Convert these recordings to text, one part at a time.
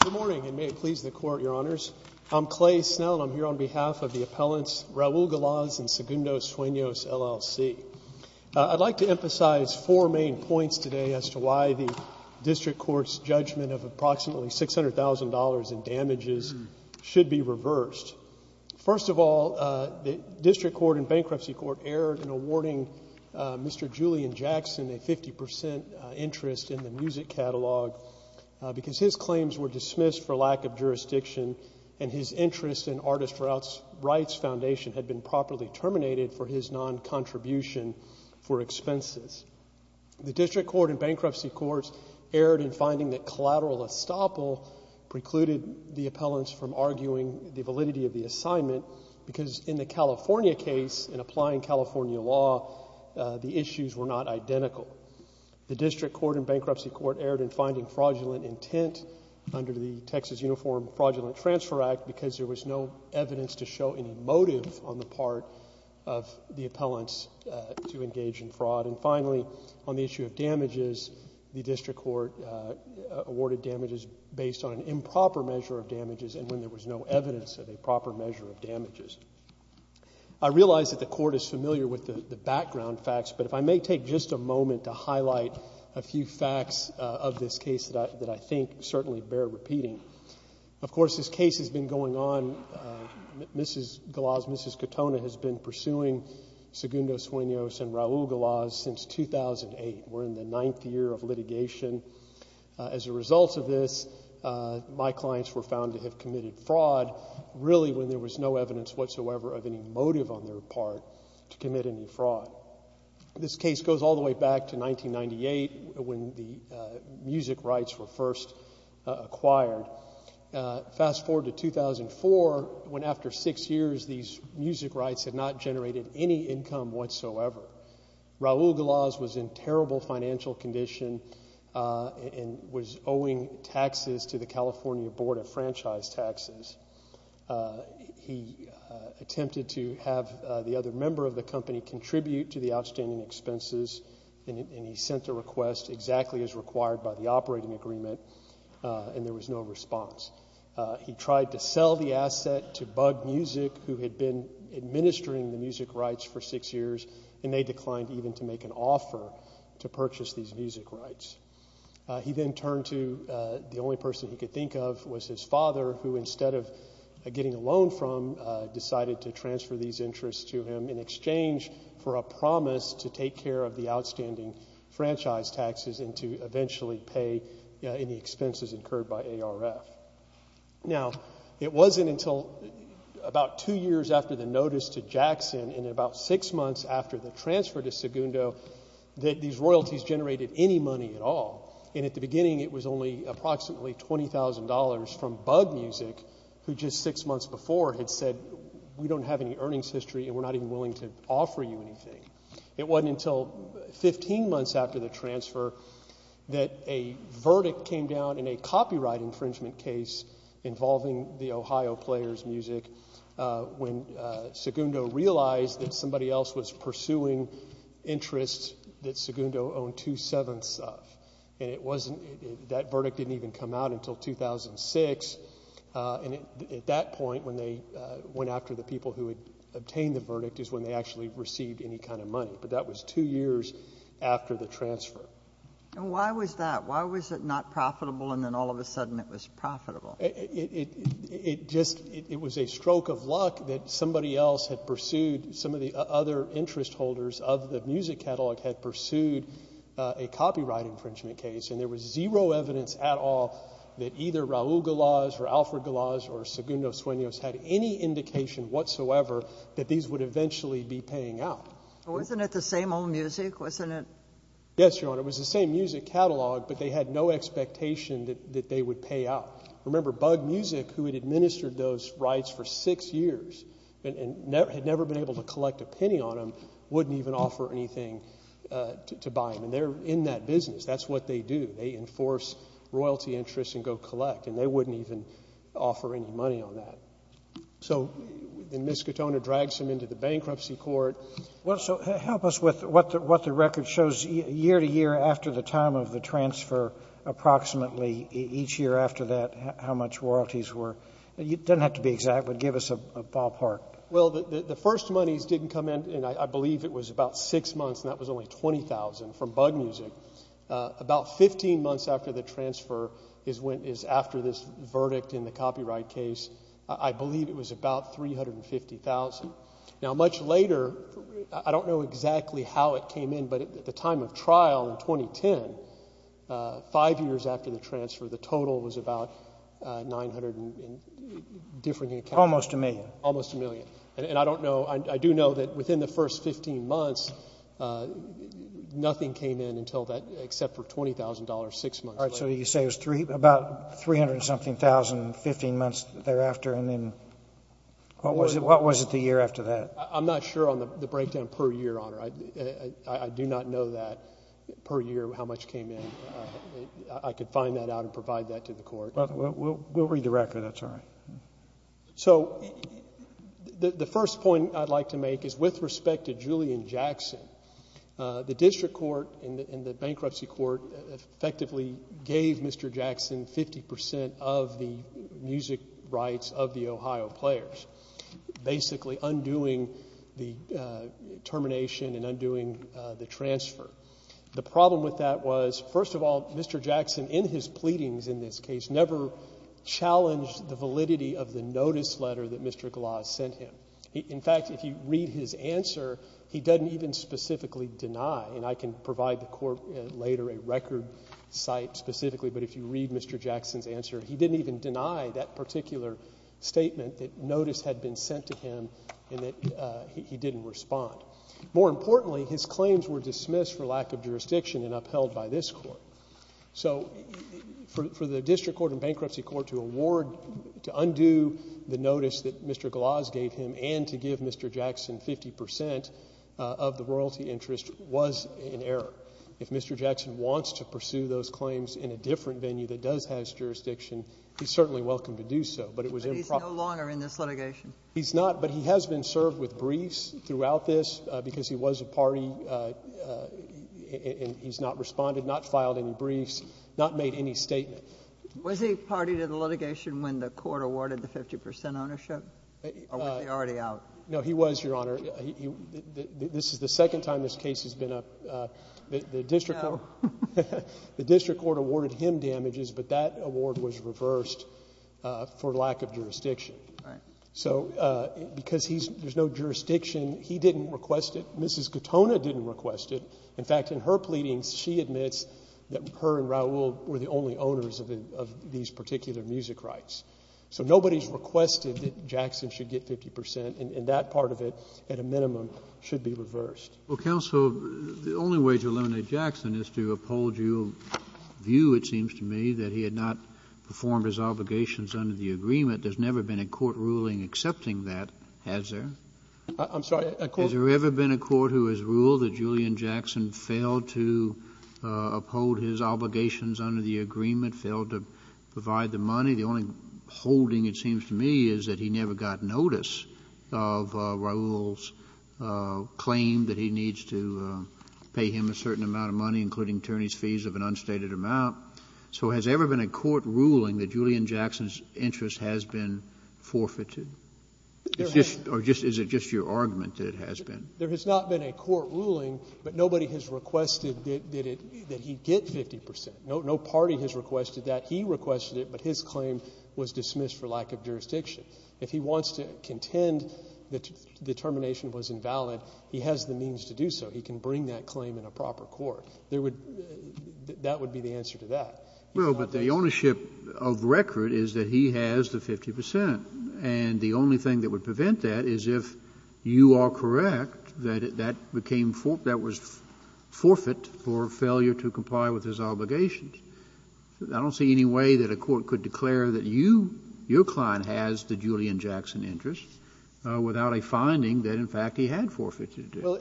Good morning, and may it please the Court, Your Honors. I'm Clay Snell, and I'm here on behalf of the appellants Raul Galaz and Segundo Sueños, LLC. I'd like to emphasize four main points today as to why the District Court's judgment of approximately $600,000 in damages should be reversed. First of all, the District Court and Bankruptcy Court erred in awarding Mr. Julian Jackson a 50 percent interest in the music catalog because his claims were dismissed for lack of jurisdiction and his interest in Artist Rights Foundation had been properly terminated for his non-contribution for expenses. The District Court and Bankruptcy Court erred in finding that collateral estoppel precluded the appellants from arguing the law. The issues were not identical. The District Court and Bankruptcy Court erred in finding fraudulent intent under the Texas Uniform Fraudulent Transfer Act because there was no evidence to show any motive on the part of the appellants to engage in fraud. And finally, on the issue of damages, the District Court awarded damages based on an improper measure of damages and when there was no evidence of a proper measure of damages. I realize that the Court is familiar with the background facts, but if I may take just a moment to highlight a few facts of this case that I think certainly bear repeating. Of course, this case has been going on. Mrs. Galaz, Mrs. Katona has been pursuing Segundo Sueños and Raul Galaz since 2008. We're in the ninth year of litigation. As a result of this, my clients were found to have committed fraud, really when there was no evidence whatsoever of any motive on their part to commit any fraud. This case goes all the way back to 1998 when the music rights were first acquired. Fast forward to 2004 when after six years these music rights had not generated any income whatsoever. Raul Galaz was in terrible financial condition and was owing taxes to the California Board of Franchise Taxes. He attempted to have the other member of the company contribute to the outstanding expenses and he sent a request exactly as required by the operating agreement and there was no response. He tried to sell the asset to Bug Music, who had been administering the music rights for six years and they declined even to make an offer to purchase these music rights. He then turned to the only person he could think of was his father, who instead of getting a loan from decided to transfer these interests to him in exchange for a promise to take care of the outstanding franchise taxes and to eventually pay any expenses incurred by ARF. Now, it wasn't until 15 months after the transfer to Segundo that these royalties generated any money at all. And at the beginning it was only approximately $20,000 from Bug Music who just six months before had said we don't have any earnings history and we're not even willing to offer you anything. It wasn't until 15 months after the transfer that a verdict came down in a copyright infringement case involving the Ohio Players Music when Segundo realized that somebody else was pursuing interests that Segundo owned two-sevenths of. And it wasn't that verdict didn't even come out until 2006. And at that point when they went after the people who had obtained the verdict is when they actually received any kind of money. But that was two years after the transfer. And why was that? Why was it not profitable and then all of a sudden it was profitable? It just it was a stroke of luck that somebody else had pursued some of the other interest holders of the music catalog had pursued a copyright infringement case and there was zero evidence at all that either Raul Galaz or Alfred Galaz or Segundo Sueños had any indication whatsoever that these would eventually be paying out. Wasn't it the same old music? Wasn't it? Yes, Your Honor. It was the same music catalog but they had no expectation that they would pay out. Remember, Bug Music, who had administered those rights for six years and had never been able to collect a penny on them, wouldn't even offer anything to buy them. And they're in that business. That's what they do. They enforce royalty interests and go collect and they wouldn't even offer any money on that. So then Ms. Katona drags him into the bankruptcy court. Well, so help us with what the record shows year to year after the time of the transfer approximately each year after that how much royalties were. It doesn't have to be exact but give us a ballpark. Well, the first monies didn't come in and I believe it was about six months and that was only $20,000 from Bug Music. About 15 months after the transfer is after this verdict in the copyright case, I believe it was about $350,000. Now much later, I don't know exactly how it came in but at the time of trial in 2010, five years after the transfer, the total was about $900,000 in different accounts. Almost a million. Almost a million. And I don't know, I do know that within the first 15 months, nothing came in until that except for $20,000 six months later. All right, so you say it was about $300,000 something, 15 months thereafter and then what was it the year after that? I'm not sure on the breakdown per year, Honor. I do not know that per year how much came in. I could find that out and provide that to the court. We'll read the record, that's all right. So the first point I'd like to make is with respect to Julian Jackson, the District Court and the Bankruptcy Court effectively gave Mr. Jackson 50% of the music rights of the case, including the termination and undoing the transfer. The problem with that was, first of all, Mr. Jackson in his pleadings in this case never challenged the validity of the notice letter that Mr. Glass sent him. In fact, if you read his answer, he doesn't even specifically deny, and I can provide the court later a record site specifically, but if you read Mr. Jackson's answer, he didn't even deny that particular statement that notice had been sent to him and that he didn't respond. More importantly, his claims were dismissed for lack of jurisdiction and upheld by this court. So for the District Court and Bankruptcy Court to award, to undo the notice that Mr. Glass gave him and to give Mr. Jackson 50% of the royalty interest was an error. If Mr. Jackson wants to pursue those claims in a different venue that does have jurisdiction, he's certainly welcome to do so, but it was improper. But he's no longer in this litigation? He's not, but he has been served with briefs throughout this because he was a party and he's not responded, not filed any briefs, not made any statement. Was he party to the litigation when the court awarded the 50% ownership? Or was he already out? No, he was, Your Honor. This is the second time this case has been up. The District Court awarded him damages, but that award was reversed for lack of jurisdiction. So because there's no jurisdiction, he didn't request it. Mrs. Katona didn't request it. In fact, in her pleadings, she admits that her and Raul were the only owners of these particular music rights. So nobody's requested that Jackson should get 50% and that part of it, at a minimum, should be reversed. Well, counsel, the only way to eliminate Jackson is to uphold your view, it seems to me, that he had not performed his obligations under the agreement. There's never been a court ruling accepting that, has there? I'm sorry, a court rule? Has there ever been a court who has ruled that Julian Jackson failed to uphold his obligations under the agreement, failed to provide the money? The only holding, it seems to me, is that he never got notice of Raul's claim that he needs to pay him a certain amount of money, including attorneys' fees of an unstated amount. So has there ever been a court ruling that Julian Jackson's interest has been forfeited? Is it just your argument that it has been? There has not been a court ruling, but nobody has requested that he get 50%. No party has requested that. He requested it, but his claim was dismissed for lack of jurisdiction. If he wants to contend that the termination was invalid, he has the means to do so. He can bring that claim in a proper court. That would be the answer to that. Well, but the ownership of record is that he has the 50%, and the only thing that would prevent that is if you are correct that that became forfeit, that was forfeit for failure to comply with his obligations. I don't see any way that a court could declare that you, your client, has the Julian Jackson interest without a finding that, in fact, he had forfeited it. Well,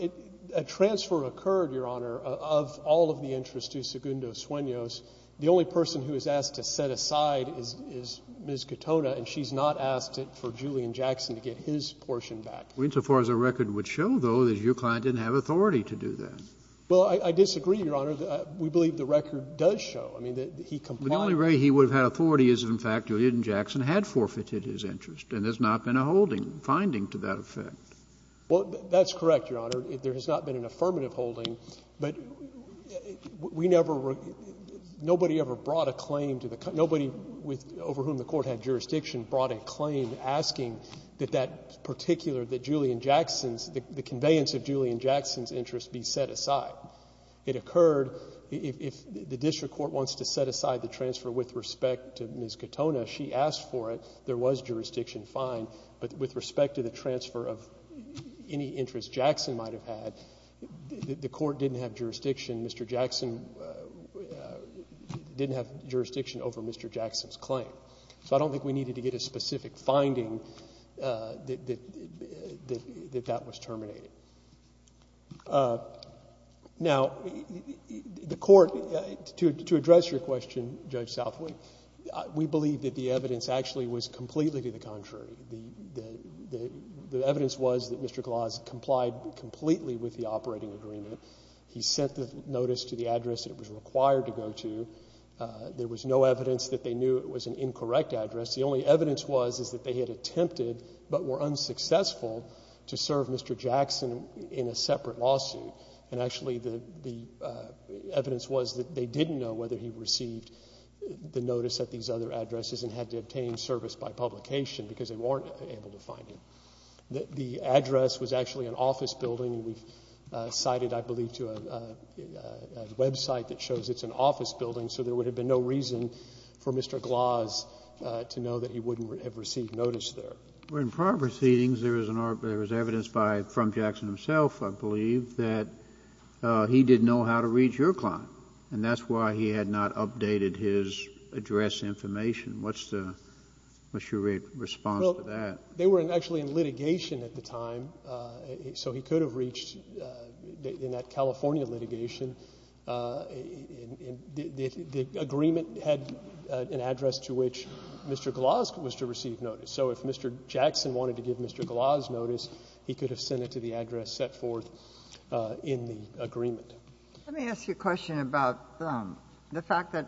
a transfer occurred, Your Honor, of all of the interest to Segundo Sueños. The only person who is asked to set aside is Ms. Katona, and she's not asked for Julian Jackson to get his portion back. Well, insofar as the record would show, though, that your client didn't have authority to do that. Well, I disagree, Your Honor. We believe the record does show, I mean, that he complied with his obligations. The only way he would have had authority is if, in fact, Julian Jackson had forfeited his interest, and there's not been a holding, finding to that effect. Well, that's correct, Your Honor. There has not been an affirmative holding, but we never — nobody ever brought a claim to the — nobody over whom the Court had jurisdiction brought a claim asking that that particular — that Julian Jackson's — the conveyance of Julian Jackson's interest be set aside. It occurred — if the district court wants to set aside the transfer with respect to Ms. Katona, she asked for it. There was jurisdiction, fine. But with respect to the transfer of any interest Jackson might have had, the Court didn't have jurisdiction. Mr. Jackson didn't have jurisdiction over Mr. Jackson's claim. So I don't think we needed to get a specific finding that that was terminated. Now, the Court — to address your question, Judge Southwood, we believe that the evidence actually was completely to the contrary. The evidence was that Mr. Gloss complied completely with the operating agreement. He sent the notice to the address it was required to go to. There was no evidence that they knew it was an incorrect address. The only evidence was is that they had attempted, but were unsuccessful, to serve Mr. Jackson in a separate lawsuit. And actually, the evidence was that they didn't know whether he received the notice at these other addresses and had to obtain service by publication because they weren't able to find him. The address was actually an office building, and we cited, I believe, to a website that shows it's an office building. So there would have been no reason for Mr. Gloss to know that he wouldn't have received notice there. But in prior proceedings, there was an — there was evidence by — from Jackson himself, I believe, that he didn't know how to reach your client, and that's why he had not updated his address information. What's the — what's your response to that? Well, they were actually in litigation at the time, so he could have reached — in that California litigation, the agreement had an address to which Mr. Gloss was to receive notice. So if Mr. Jackson wanted to give Mr. Gloss notice, he could have sent it to the address set forth in the agreement. Let me ask you a question about the fact that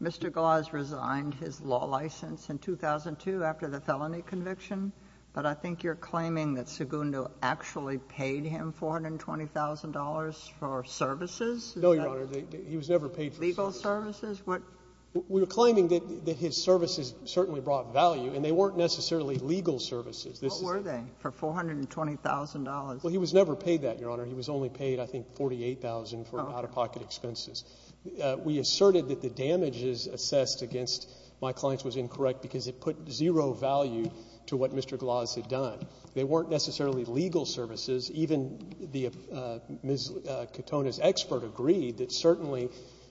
Mr. Gloss resigned his law license in 2002 after the felony conviction, but I think you're claiming that Segundo actually paid him $420,000 for services? No, Your Honor. He was never paid for services. Legal services? We're claiming that his services certainly brought value, and they weren't necessarily legal services. What were they for $420,000? Well, he was never paid that, Your Honor. He was only paid, I think, $48,000 for out-of-pocket expenses. We asserted that the damages assessed against my clients was incorrect because it put zero value to what Mr. Gloss had done. They weren't necessarily legal services. Even Ms. Katona's expert agreed that certainly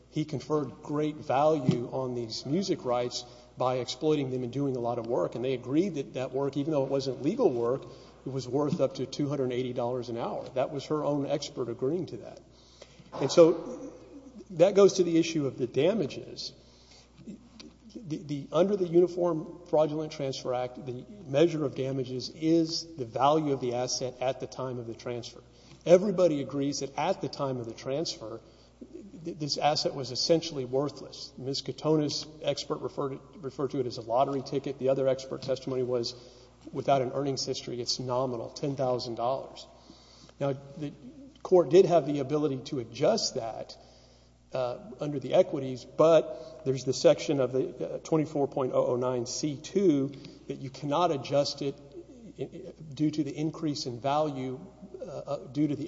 he conferred great value on these music rights by exploiting them and doing a lot of work, and they agreed that that work, even though it wasn't legal work, it was worth up to $280 an hour. That was her own expert agreeing to that. And so that goes to the issue of the damages. Under the Uniform Fraudulent Transfer Act, the measure of damages is the value of the transfer. Everybody agrees that at the time of the transfer, this asset was essentially worthless. Ms. Katona's expert referred to it as a lottery ticket. The other expert testimony was without an earnings history, it's nominal, $10,000. Now, the Court did have the ability to adjust that under the equities, but there's the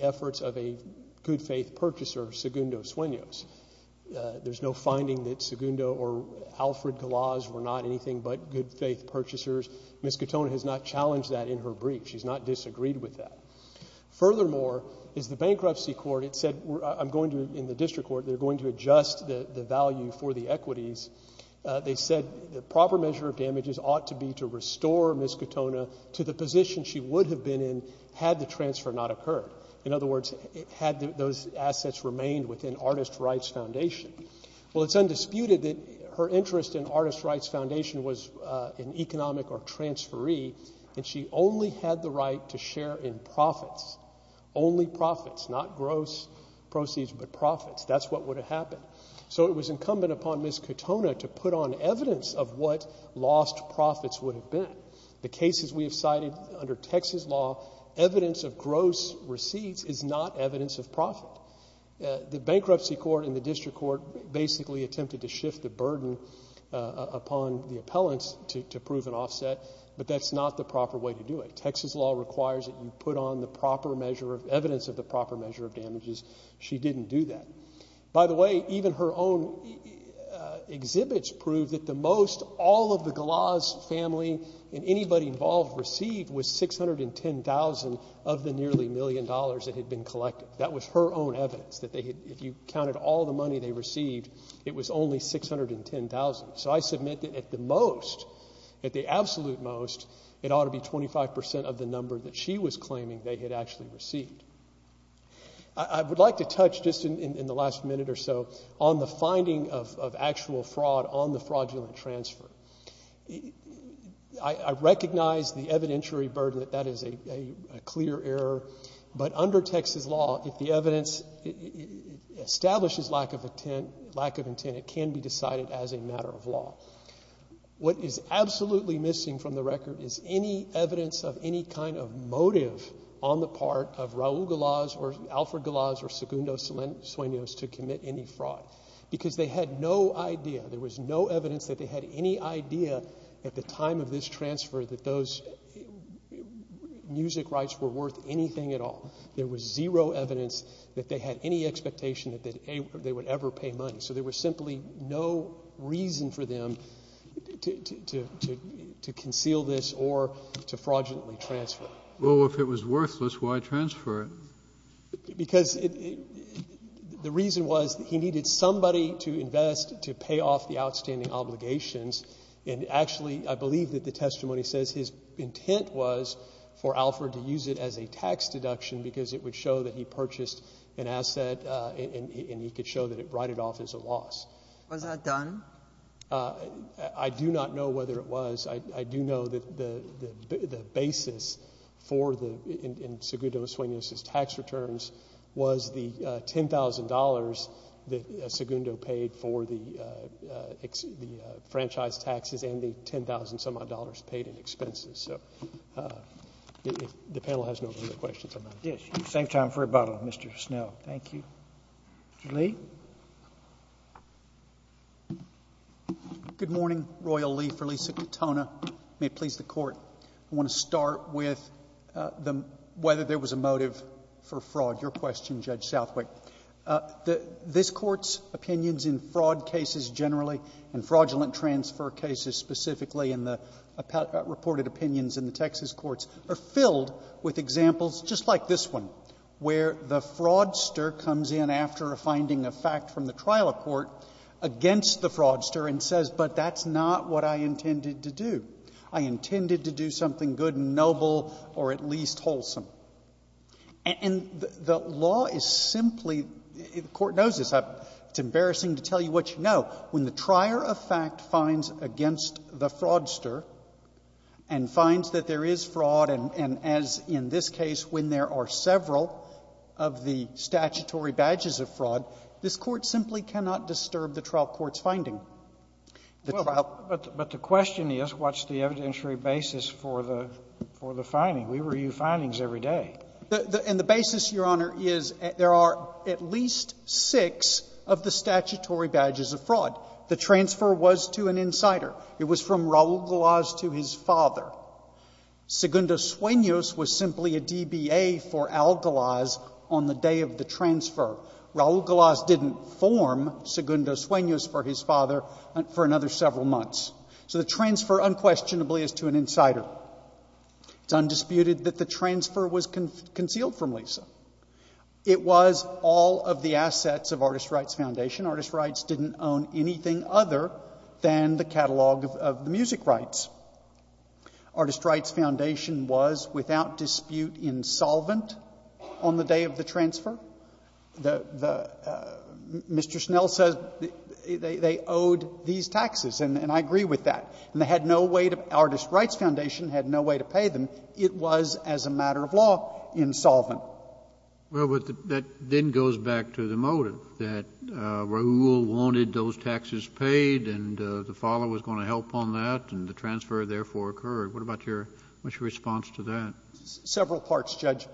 efforts of a good-faith purchaser, Segundo Sueños. There's no finding that Segundo or Alfred Gloss were not anything but good-faith purchasers. Ms. Katona has not challenged that in her brief. She's not disagreed with that. Furthermore, is the Bankruptcy Court, it said, I'm going to, in the District Court, they're going to adjust the value for the equities. They said the proper measure of damages ought to be to restore Ms. Katona to the position she would have been in had the transfer not occurred. In other words, had those assets remained within Artist Rights Foundation. Well, it's undisputed that her interest in Artist Rights Foundation was an economic or transferee, and she only had the right to share in profits, only profits, not gross proceeds, but profits. That's what would have happened. So it was incumbent upon Ms. Katona to put on evidence of what lost profits would have been. The cases we have cited under Texas law, evidence of gross receipts is not evidence of profit. The Bankruptcy Court and the District Court basically attempted to shift the burden upon the appellants to prove an offset, but that's not the proper way to do it. Texas law requires that you put on the proper measure of, evidence of the proper measure of damages. She didn't do that. By the way, even her own exhibits prove that the most all of the Galaz family and anybody involved received was $610,000 of the nearly million dollars that had been collected. That was her own evidence. If you counted all the money they received, it was only $610,000. So I submit that at the most, at the absolute most, it ought to be 25% of the number that she was claiming they had actually received. I would like to touch just in the last minute or so on the finding of actual fraud on the fraudulent transfer. I recognize the evidentiary burden that that is a clear error, but under Texas law, if the evidence establishes lack of intent, it can be decided as a matter of law. What is absolutely missing from the record is any evidence of any kind of motive on the part of Raul Galaz or Alfred Galaz or Segundo Sueños to commit any fraud. Because they had no idea, there was no evidence that they had any idea at the time of this transfer that those music rights were worth anything at all. There was zero evidence that they had any expectation that they would ever pay money. So there was simply no reason for them to conceal this or to fraudulently transfer. Well, if it was worthless, why transfer it? Because the reason was he needed somebody to invest to pay off the outstanding obligations, and actually I believe that the testimony says his intent was for Alfred to use it as a tax deduction because it would show that he purchased an asset and he could show that it righted off as a loss. Was that done? I do not know whether it was. I do know that the basis in Segundo Sueños' tax returns was the $10,000 that Segundo paid for the franchise taxes and the $10,000-some-odd paid in expenses. So the panel has no further questions on that. Yes, same time for rebuttal, Mr. Snell. Thank you. Mr. Lee? Good morning, Royal Lee, for Lisa Katona. May it please the Court. I want to start with whether there was a motive for fraud. Your question, Judge Southwick. This Court's opinions in fraud cases generally and fraudulent transfer cases specifically in the reported opinions in the Texas courts are filled with examples just like this one, where the fraudster comes in after finding a fact from the trial of court against the fraudster and says, but that's not what I intended to do. I intended to do something good and noble or at least wholesome. And the law is simply the Court knows this. It's embarrassing to tell you what you know. When the trier of fact finds against the fraudster and finds that there is fraud and, as in this case, when there are several of the statutory badges of fraud, this Court simply cannot disturb the trial court's finding. But the question is, what's the evidentiary basis for the finding? We review findings every day. And the basis, Your Honor, is there are at least six of the statutory badges of fraud. The transfer was to an insider. It was from Raul Galaz to his father. Segundo Sueños was simply a DBA for Raul Galaz on the day of the transfer. Raul Galaz didn't form Segundo Sueños for his father for another several months. So the transfer unquestionably is to an insider. It's undisputed that the transfer was concealed from Lisa. It was all of the assets of Artist Rights Foundation. Artist Rights didn't own anything other than the catalog of the music rights. Artist Rights Foundation was without dispute insolvent on the day of the transfer. Mr. Snell says they owed these taxes, and I agree with that. And they had no way to – Artist Rights Foundation had no way to pay them. It was, as a matter of law, insolvent. Well, but that then goes back to the motive, that Raul wanted those taxes paid, and the father was going to help on that, and the transfer therefore occurred. What about your – what's your response to that? Several parts, Judge.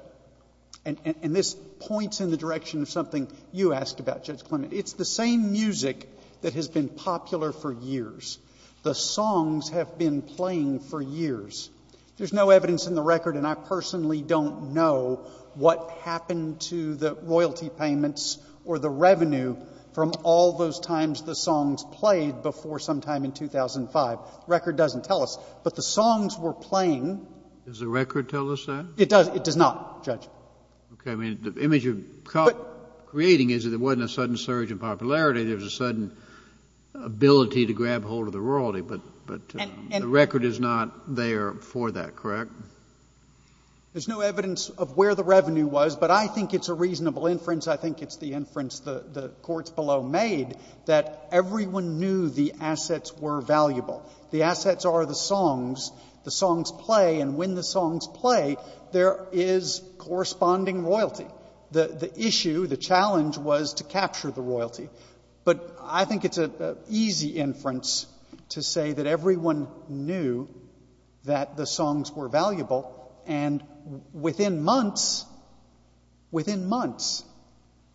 And this points in the direction of something you asked about, Judge Clement. It's the same music that has been popular for years. The songs have been playing for years. There's no evidence in the record, and I personally don't know what happened to the royalty payments or the revenue from all those times the songs played before sometime in 2005. The record doesn't tell us. But the songs were playing. Does the record tell us that? It does. It does not, Judge. Okay. I mean, the image you're creating is that there wasn't a sudden surge in popularity. There was a sudden ability to grab hold of the royalty. But the record is not there for that, correct? There's no evidence of where the revenue was. But I think it's a reasonable inference. I think it's the inference the courts below made that everyone knew the assets were valuable. The assets are the songs. The songs play. And when the songs play, there is corresponding royalty. The issue, the challenge was to capture the royalty. But I think it's an easy inference to say that everyone knew that the songs were valuable. And within months, within months,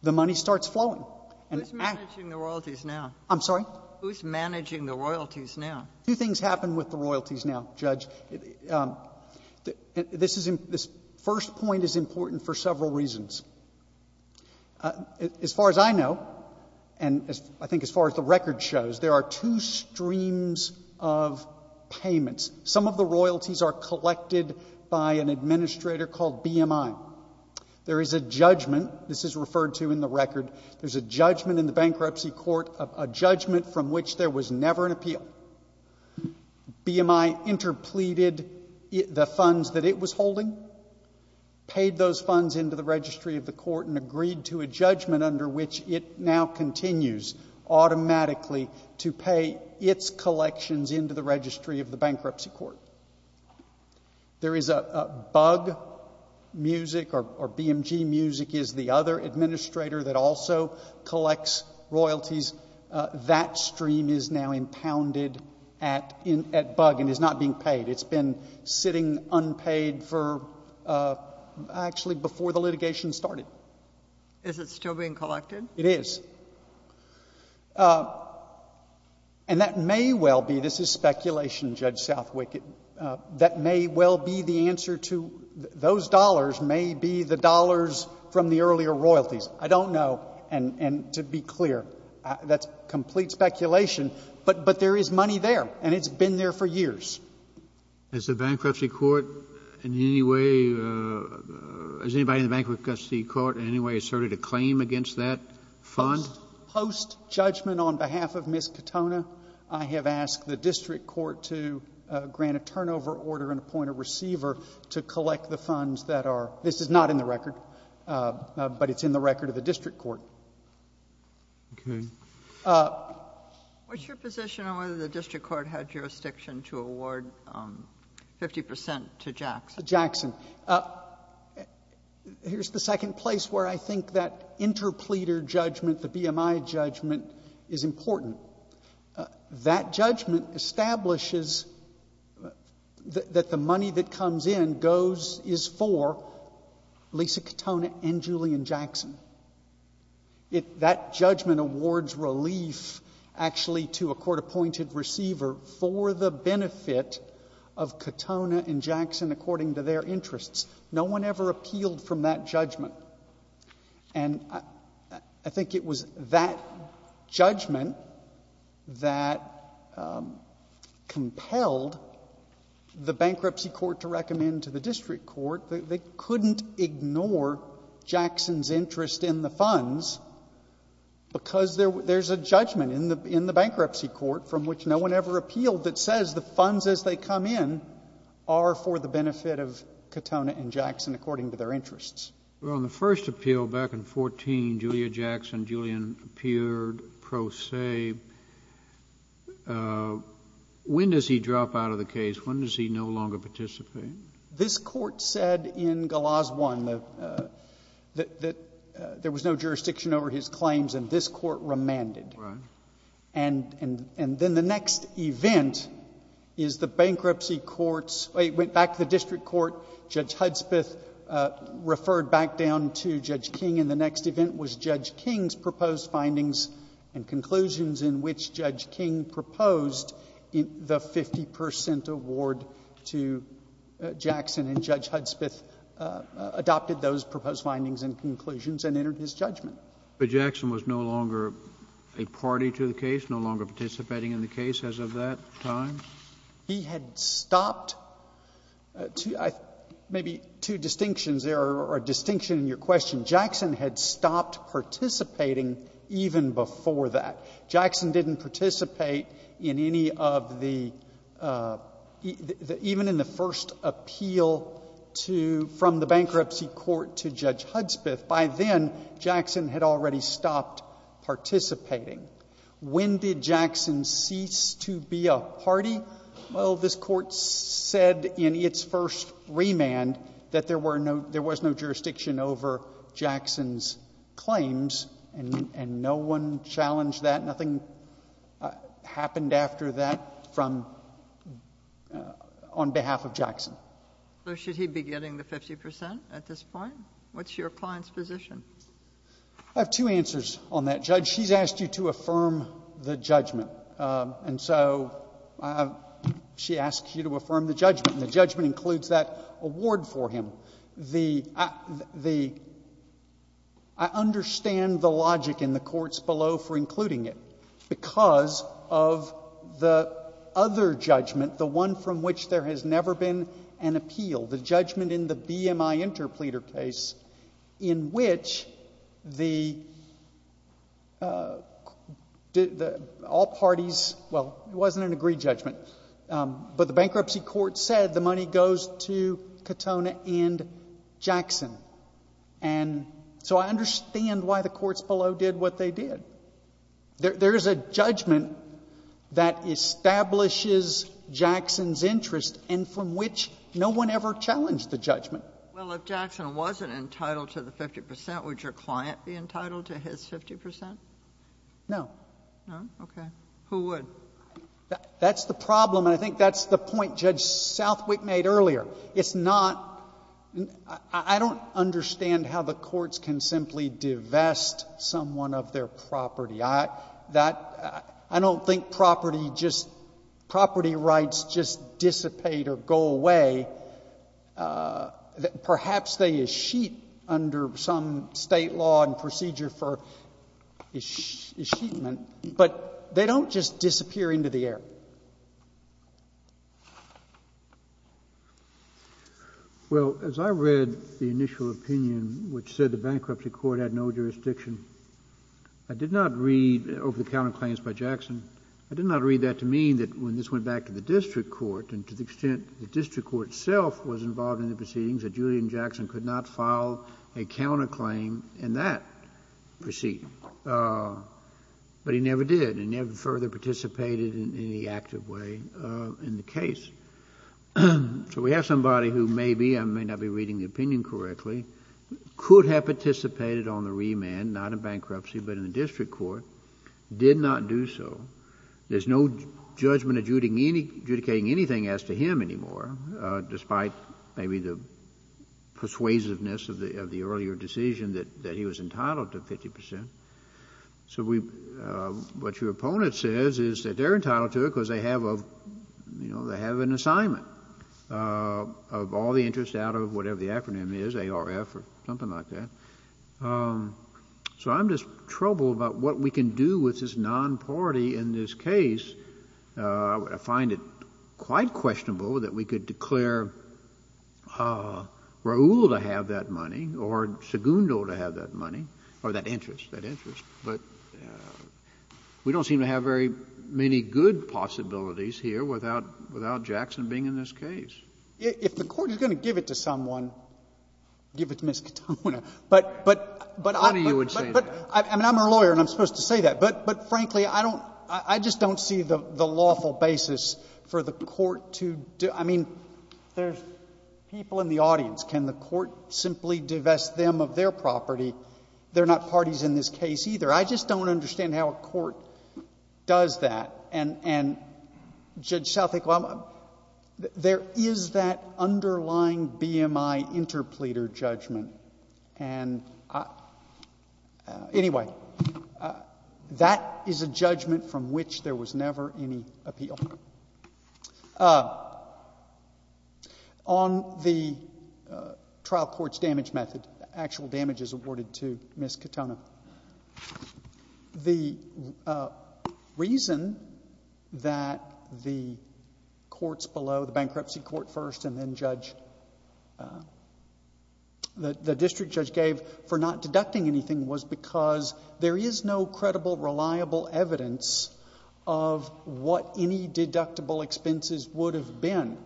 the money starts flowing. Who's managing the royalties now? I'm sorry? Who's managing the royalties now? Two things happen with the royalties now, Judge. This first point is important for several reasons. As far as I know, and I think as far as the record shows, there are two streams of payments. Some of the royalties are collected by an administrator called BMI. There is a judgment. This is referred to in the record. There's a judgment in the bankruptcy court, a judgment from which there was never an appeal. BMI interpleaded the funds that it was holding, paid those funds into the registry of the court, and agreed to a judgment under which it now continues automatically to pay its collections into the registry of the bankruptcy court. There is a bug music, or BMG music is the other administrator that also collects royalties. That stream is now impounded at bug and is not being paid. It's been sitting unpaid for actually before the litigation started. Is it still being collected? It is. And that may well be, this is speculation, Judge Southwick, that may well be the answer to those dollars may be the dollars from the earlier royalties. I don't know. And to be clear, that's complete speculation. But there is money there, and it's been there for years. As the bankruptcy court in any way, has anybody in the bankruptcy court in any way asserted a claim against that fund? Post-judgment on behalf of Ms. Katona, I have asked the district court to grant a turnover order and appoint a receiver to collect the funds that are, this is not in the record, but it's in the record of the district court. Okay. What's your position on whether the district court had jurisdiction to award 50 percent to Jackson? Jackson. Here's the second place where I think that interpleader judgment, the BMI judgment, is important. That judgment establishes that the money that comes in goes, is for Lisa Katona and Julian Jackson. That judgment awards relief actually to a court-appointed receiver for the benefit of Katona and Jackson according to their interests. No one ever appealed from that judgment. And I think it was that judgment that compelled the bankruptcy court to recommend to the district court. They couldn't ignore Jackson's interest in the funds because there's a judgment in the bankruptcy court from which no one ever appealed that says the funds as they come in are for the benefit of Katona and Jackson according to their interests. Well, in the first appeal back in 14, Julia Jackson, Julian appeared pro se. When does he drop out of the case? When does he no longer participate? This Court said in Galas 1 that there was no jurisdiction over his claims and this Court remanded. Right. And then the next event is the bankruptcy court's, it went back to the district court, Judge Hudspeth referred back down to Judge King and the next event was Judge King's proposed findings and conclusions in which Judge King proposed the 50 percent award to Jackson and Judge Hudspeth adopted those proposed findings and conclusions and entered his judgment. But Jackson was no longer a party to the case, no longer participating in the case as of that time? He had stopped. Maybe two distinctions there are a distinction in your question. Jackson had stopped participating even before that. Jackson didn't participate in any of the, even in the first appeal to, from the bankruptcy court to Judge Hudspeth. By then, Jackson had already stopped participating. When did Jackson cease to be a party? Well, this Court said in its first remand that there were no, there was no jurisdiction over Jackson's claims and no one challenged that. Nothing happened after that from, on behalf of Jackson. So should he be getting the 50 percent at this point? What's your client's position? I have two answers on that, Judge. She's asked you to affirm the judgment and so she asks you to affirm the judgment and the judgment includes that award for him. The, the, I understand the logic in the courts below for including it because of the other judgment, the one from which there has never been an appeal, the judgment in the BMI interpleader case in which the, all parties, well, it wasn't an agreed judgment, but the bankruptcy court said the money goes to Katona and Jackson. And so I understand why the courts below did what they did. There, there is a judgment that establishes Jackson's interest and from which no one ever challenged the judgment. Well, if Jackson wasn't entitled to the 50 percent, would your client be entitled to his 50 percent? No. No? Okay. Who would? That's the problem and I think that's the point Judge Southwick made earlier. It's not, I don't understand how the courts can simply divest someone of their property. I, that, I don't think property just, property rights just dissipate or go away. Perhaps they escheat under some State law and procedure for escheatment, but they don't just disappear into the air. Well, as I read the initial opinion which said the bankruptcy court had no jurisdiction, I did not read over the counterclaims by Jackson. I did not read that to mean that when this went back to the district court and to the extent the district court itself was involved in the proceedings that Julian Jackson could not file a counterclaim in that proceeding. But he never did and never further participated in any active way in the case. So we have somebody who maybe, I may not be reading the opinion correctly, could have participated on the remand, not in bankruptcy, but in the district court, did not do so. There's no judgment adjudicating anything as to him anymore, despite maybe the So we, what your opponent says is that they're entitled to it because they have a, you know, they have an assignment of all the interest out of whatever the acronym is, ARF or something like that. So I'm just troubled about what we can do with this non-party in this case. I find it quite questionable that we could declare Raul to have that money or Segundo to have that money or that interest, that interest. But we don't seem to have very many good possibilities here without Jackson being in this case. If the Court is going to give it to someone, give it to Ms. Katona. But I'm a lawyer and I'm supposed to say that. But frankly, I don't, I just don't see the lawful basis for the Court to, I mean, there's people in the audience. Can the Court simply divest them of their property? They're not parties in this case either. I just don't understand how a court does that. And Judge Southak, there is that underlying BMI interpleader judgment. And anyway, that is a judgment from which there was never any appeal. On the trial court's damage method, actual damages awarded to Ms. Katona, the reason that the courts below, the bankruptcy court first and then judge, the district judge gave for not deducting anything was because there is no deductible expenses would have been.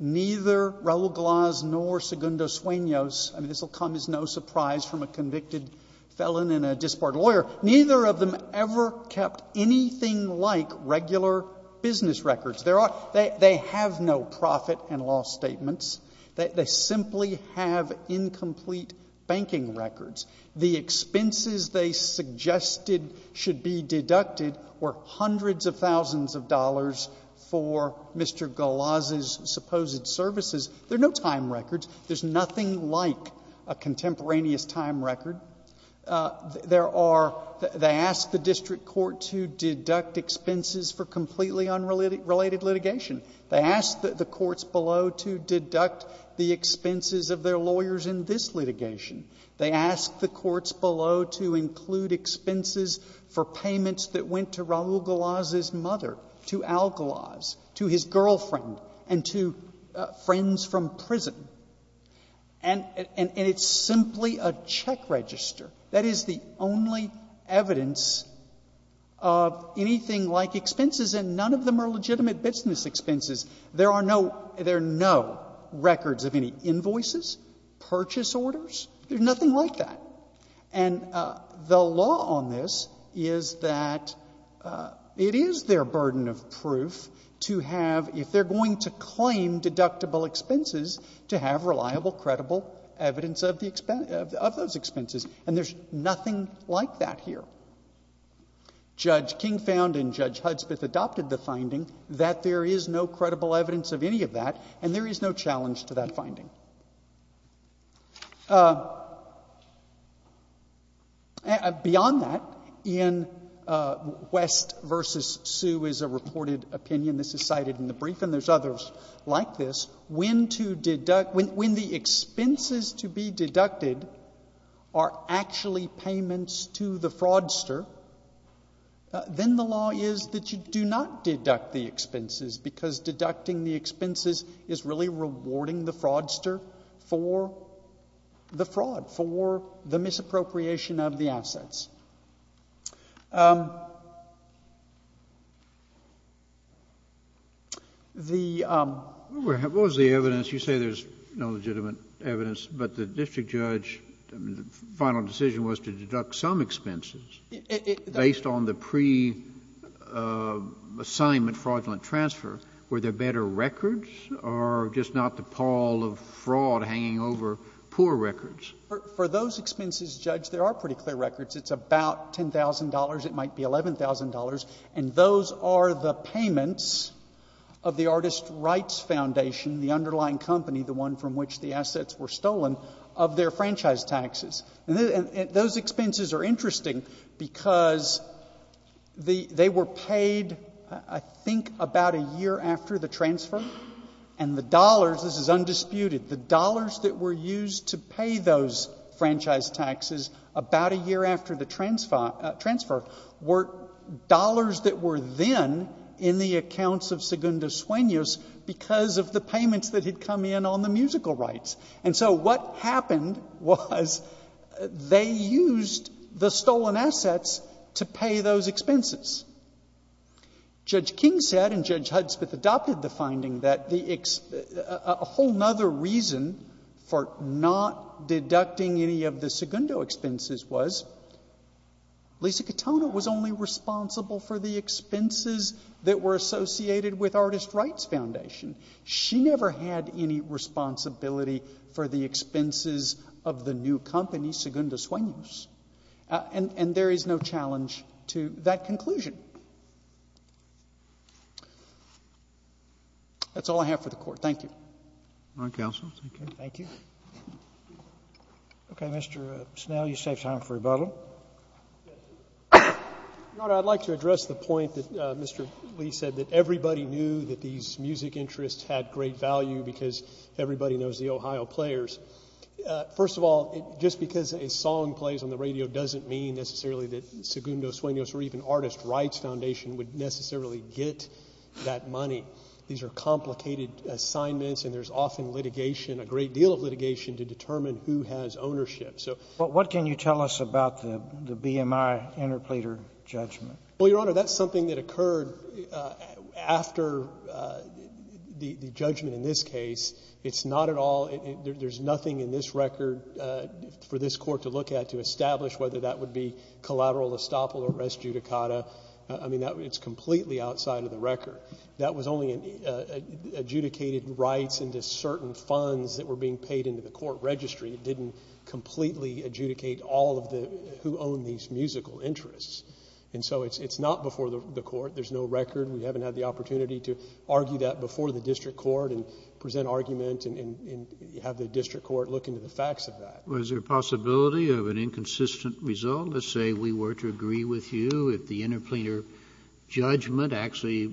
Neither Raul Glas nor Segundo Sueños, I mean, this will come as no surprise from a convicted felon and a disbarred lawyer, neither of them ever kept anything like regular business records. They have no profit and loss statements. They simply have incomplete banking records. The expenses they suggested should be deducted were hundreds of thousands of dollars for Mr. Glas's supposed services. There are no time records. There's nothing like a contemporaneous time record. There are — they asked the district court to deduct expenses for completely unrelated litigation. They asked the courts below to deduct the expenses of their lawyers in this litigation. They asked the courts below to include expenses for payments that went to Raul Glas's mother, to Al Glas, to his girlfriend and to friends from prison. And it's simply a check register. That is the only evidence of anything like expenses, and none of them are legitimate business expenses. There are no — there are no records of any invoices, purchase orders. There's nothing like that. And the law on this is that it is their burden of proof to have, if they're going to claim deductible expenses, to have reliable, credible evidence of the — of those expenses. And there's nothing like that here. Judge King found and Judge Hudspeth adopted the finding that there is no credible evidence of any of that, and there is no challenge to that finding. Beyond that, in West v. Sue is a reported opinion. This is cited in the brief, and there's others like this. When the expenses to be deducted are actually payments to the fraudster, then the law is that you do not deduct the expenses, because deducting the expenses is really rewarding the fraudster for the fraud, for the misappropriation of the assets. The — What was the evidence? You say there's no legitimate evidence, but the district judge's final decision was to deduct some expenses based on the pre-assignment fraudulent transfer. Were there better records, or just not the pall of fraud hanging over poor records? For those expenses, Judge, there are pretty clear records. It's about $10,000. It might be $11,000. And those are the payments of the Artist Rights Foundation, the underlying company, the one from which the assets were stolen, of their franchise taxes. And those expenses are interesting because they were paid, I think, about a year after the transfer, and the dollars — this is undisputed — the dollars that were used to pay those franchise taxes about a year after the transfer were dollars that were then in the accounts of Segundo Sueños because of the payments that had come in on the musical rights. And so what happened was they used the stolen assets to pay those expenses. Judge King said, and Judge Hudspeth adopted the finding, that a whole other reason for not deducting any of the Segundo expenses was Lisa Katona was only responsible for the expenses that were associated with Artist Rights Foundation. She never had any responsibility for the expenses of the new company, Segundo Sueños. And there is no challenge to that conclusion. That's all I have for the Court. Thank you. Your Honor, I'd like to address the point that Mr. Lee said, that everybody knew that these music interests had great value because everybody knows the Ohio players. First of all, just because a song plays on the radio doesn't mean necessarily that Segundo Sueños or even Artist Rights Foundation would necessarily get that money. These are complicated assignments, and there's often litigation, a great deal of litigation, to determine who has ownership. So what can you tell us about the BMI interpleader judgment? Well, Your Honor, that's something that occurred after the judgment in this case. It's not at all — there's nothing in this record for this Court to look at to establish whether that would be collateral estoppel or res judicata. I mean, it's completely outside of the record. That was only adjudicated rights into certain funds that were being paid into the court registry. It didn't completely adjudicate all of the — who owned these musical interests. And so it's not before the Court. There's no record. We haven't had the opportunity to argue that before the district court and present argument and have the district court look into the facts of that. Was there a possibility of an inconsistent result? Let's say we were to agree with you if the interpleader judgment actually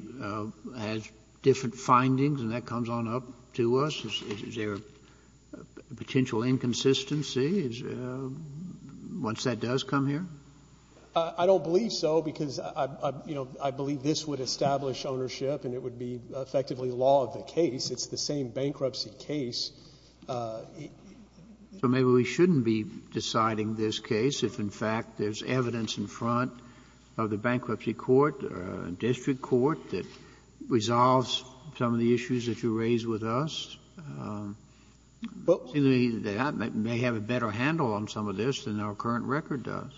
has different findings and that comes on up to us. Is there a potential inconsistency once that does come here? I don't believe so, because I believe this would establish ownership and it would be effectively law of the case. It's the same bankruptcy case. So maybe we shouldn't be deciding this case if, in fact, there's evidence in front of the bankruptcy court, district court, that resolves some of the issues that you raised with us. I may have a better handle on some of this than our current record does.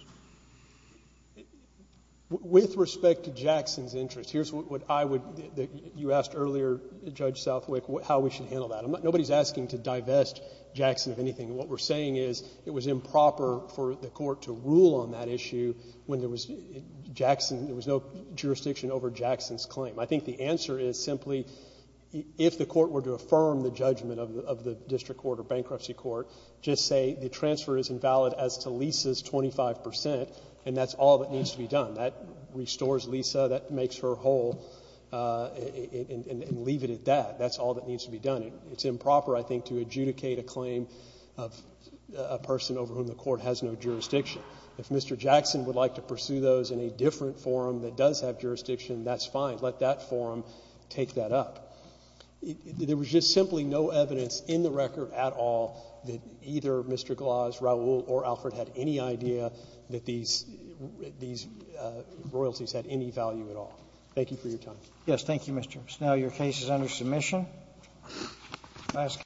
With respect to Jackson's interest, here's what I would — you asked earlier, Judge Southwick, how we should handle that. Nobody's asking to divest Jackson of anything. What we're saying is it was improper for the court to rule on that issue when there was no jurisdiction over Jackson's claim. I think the answer is simply if the court were to affirm the judgment of the district court or bankruptcy court, just say the transfer is invalid as to Lisa's 25 percent and that's all that needs to be done. That restores Lisa. That makes her whole. And leave it at that. That's all that needs to be done. It's improper, I think, to adjudicate a claim of a person over whom the court has no jurisdiction. If Mr. Jackson would like to pursue those in a different forum that does have jurisdiction, that's fine. Let that forum take that up. There was just simply no evidence in the record at all that either Mr. Gloss, Raul, or Alfred had any idea that these royalties had any value at all. Thank you for your time. Yes, thank you, Mr. Snell. Your case is under submission.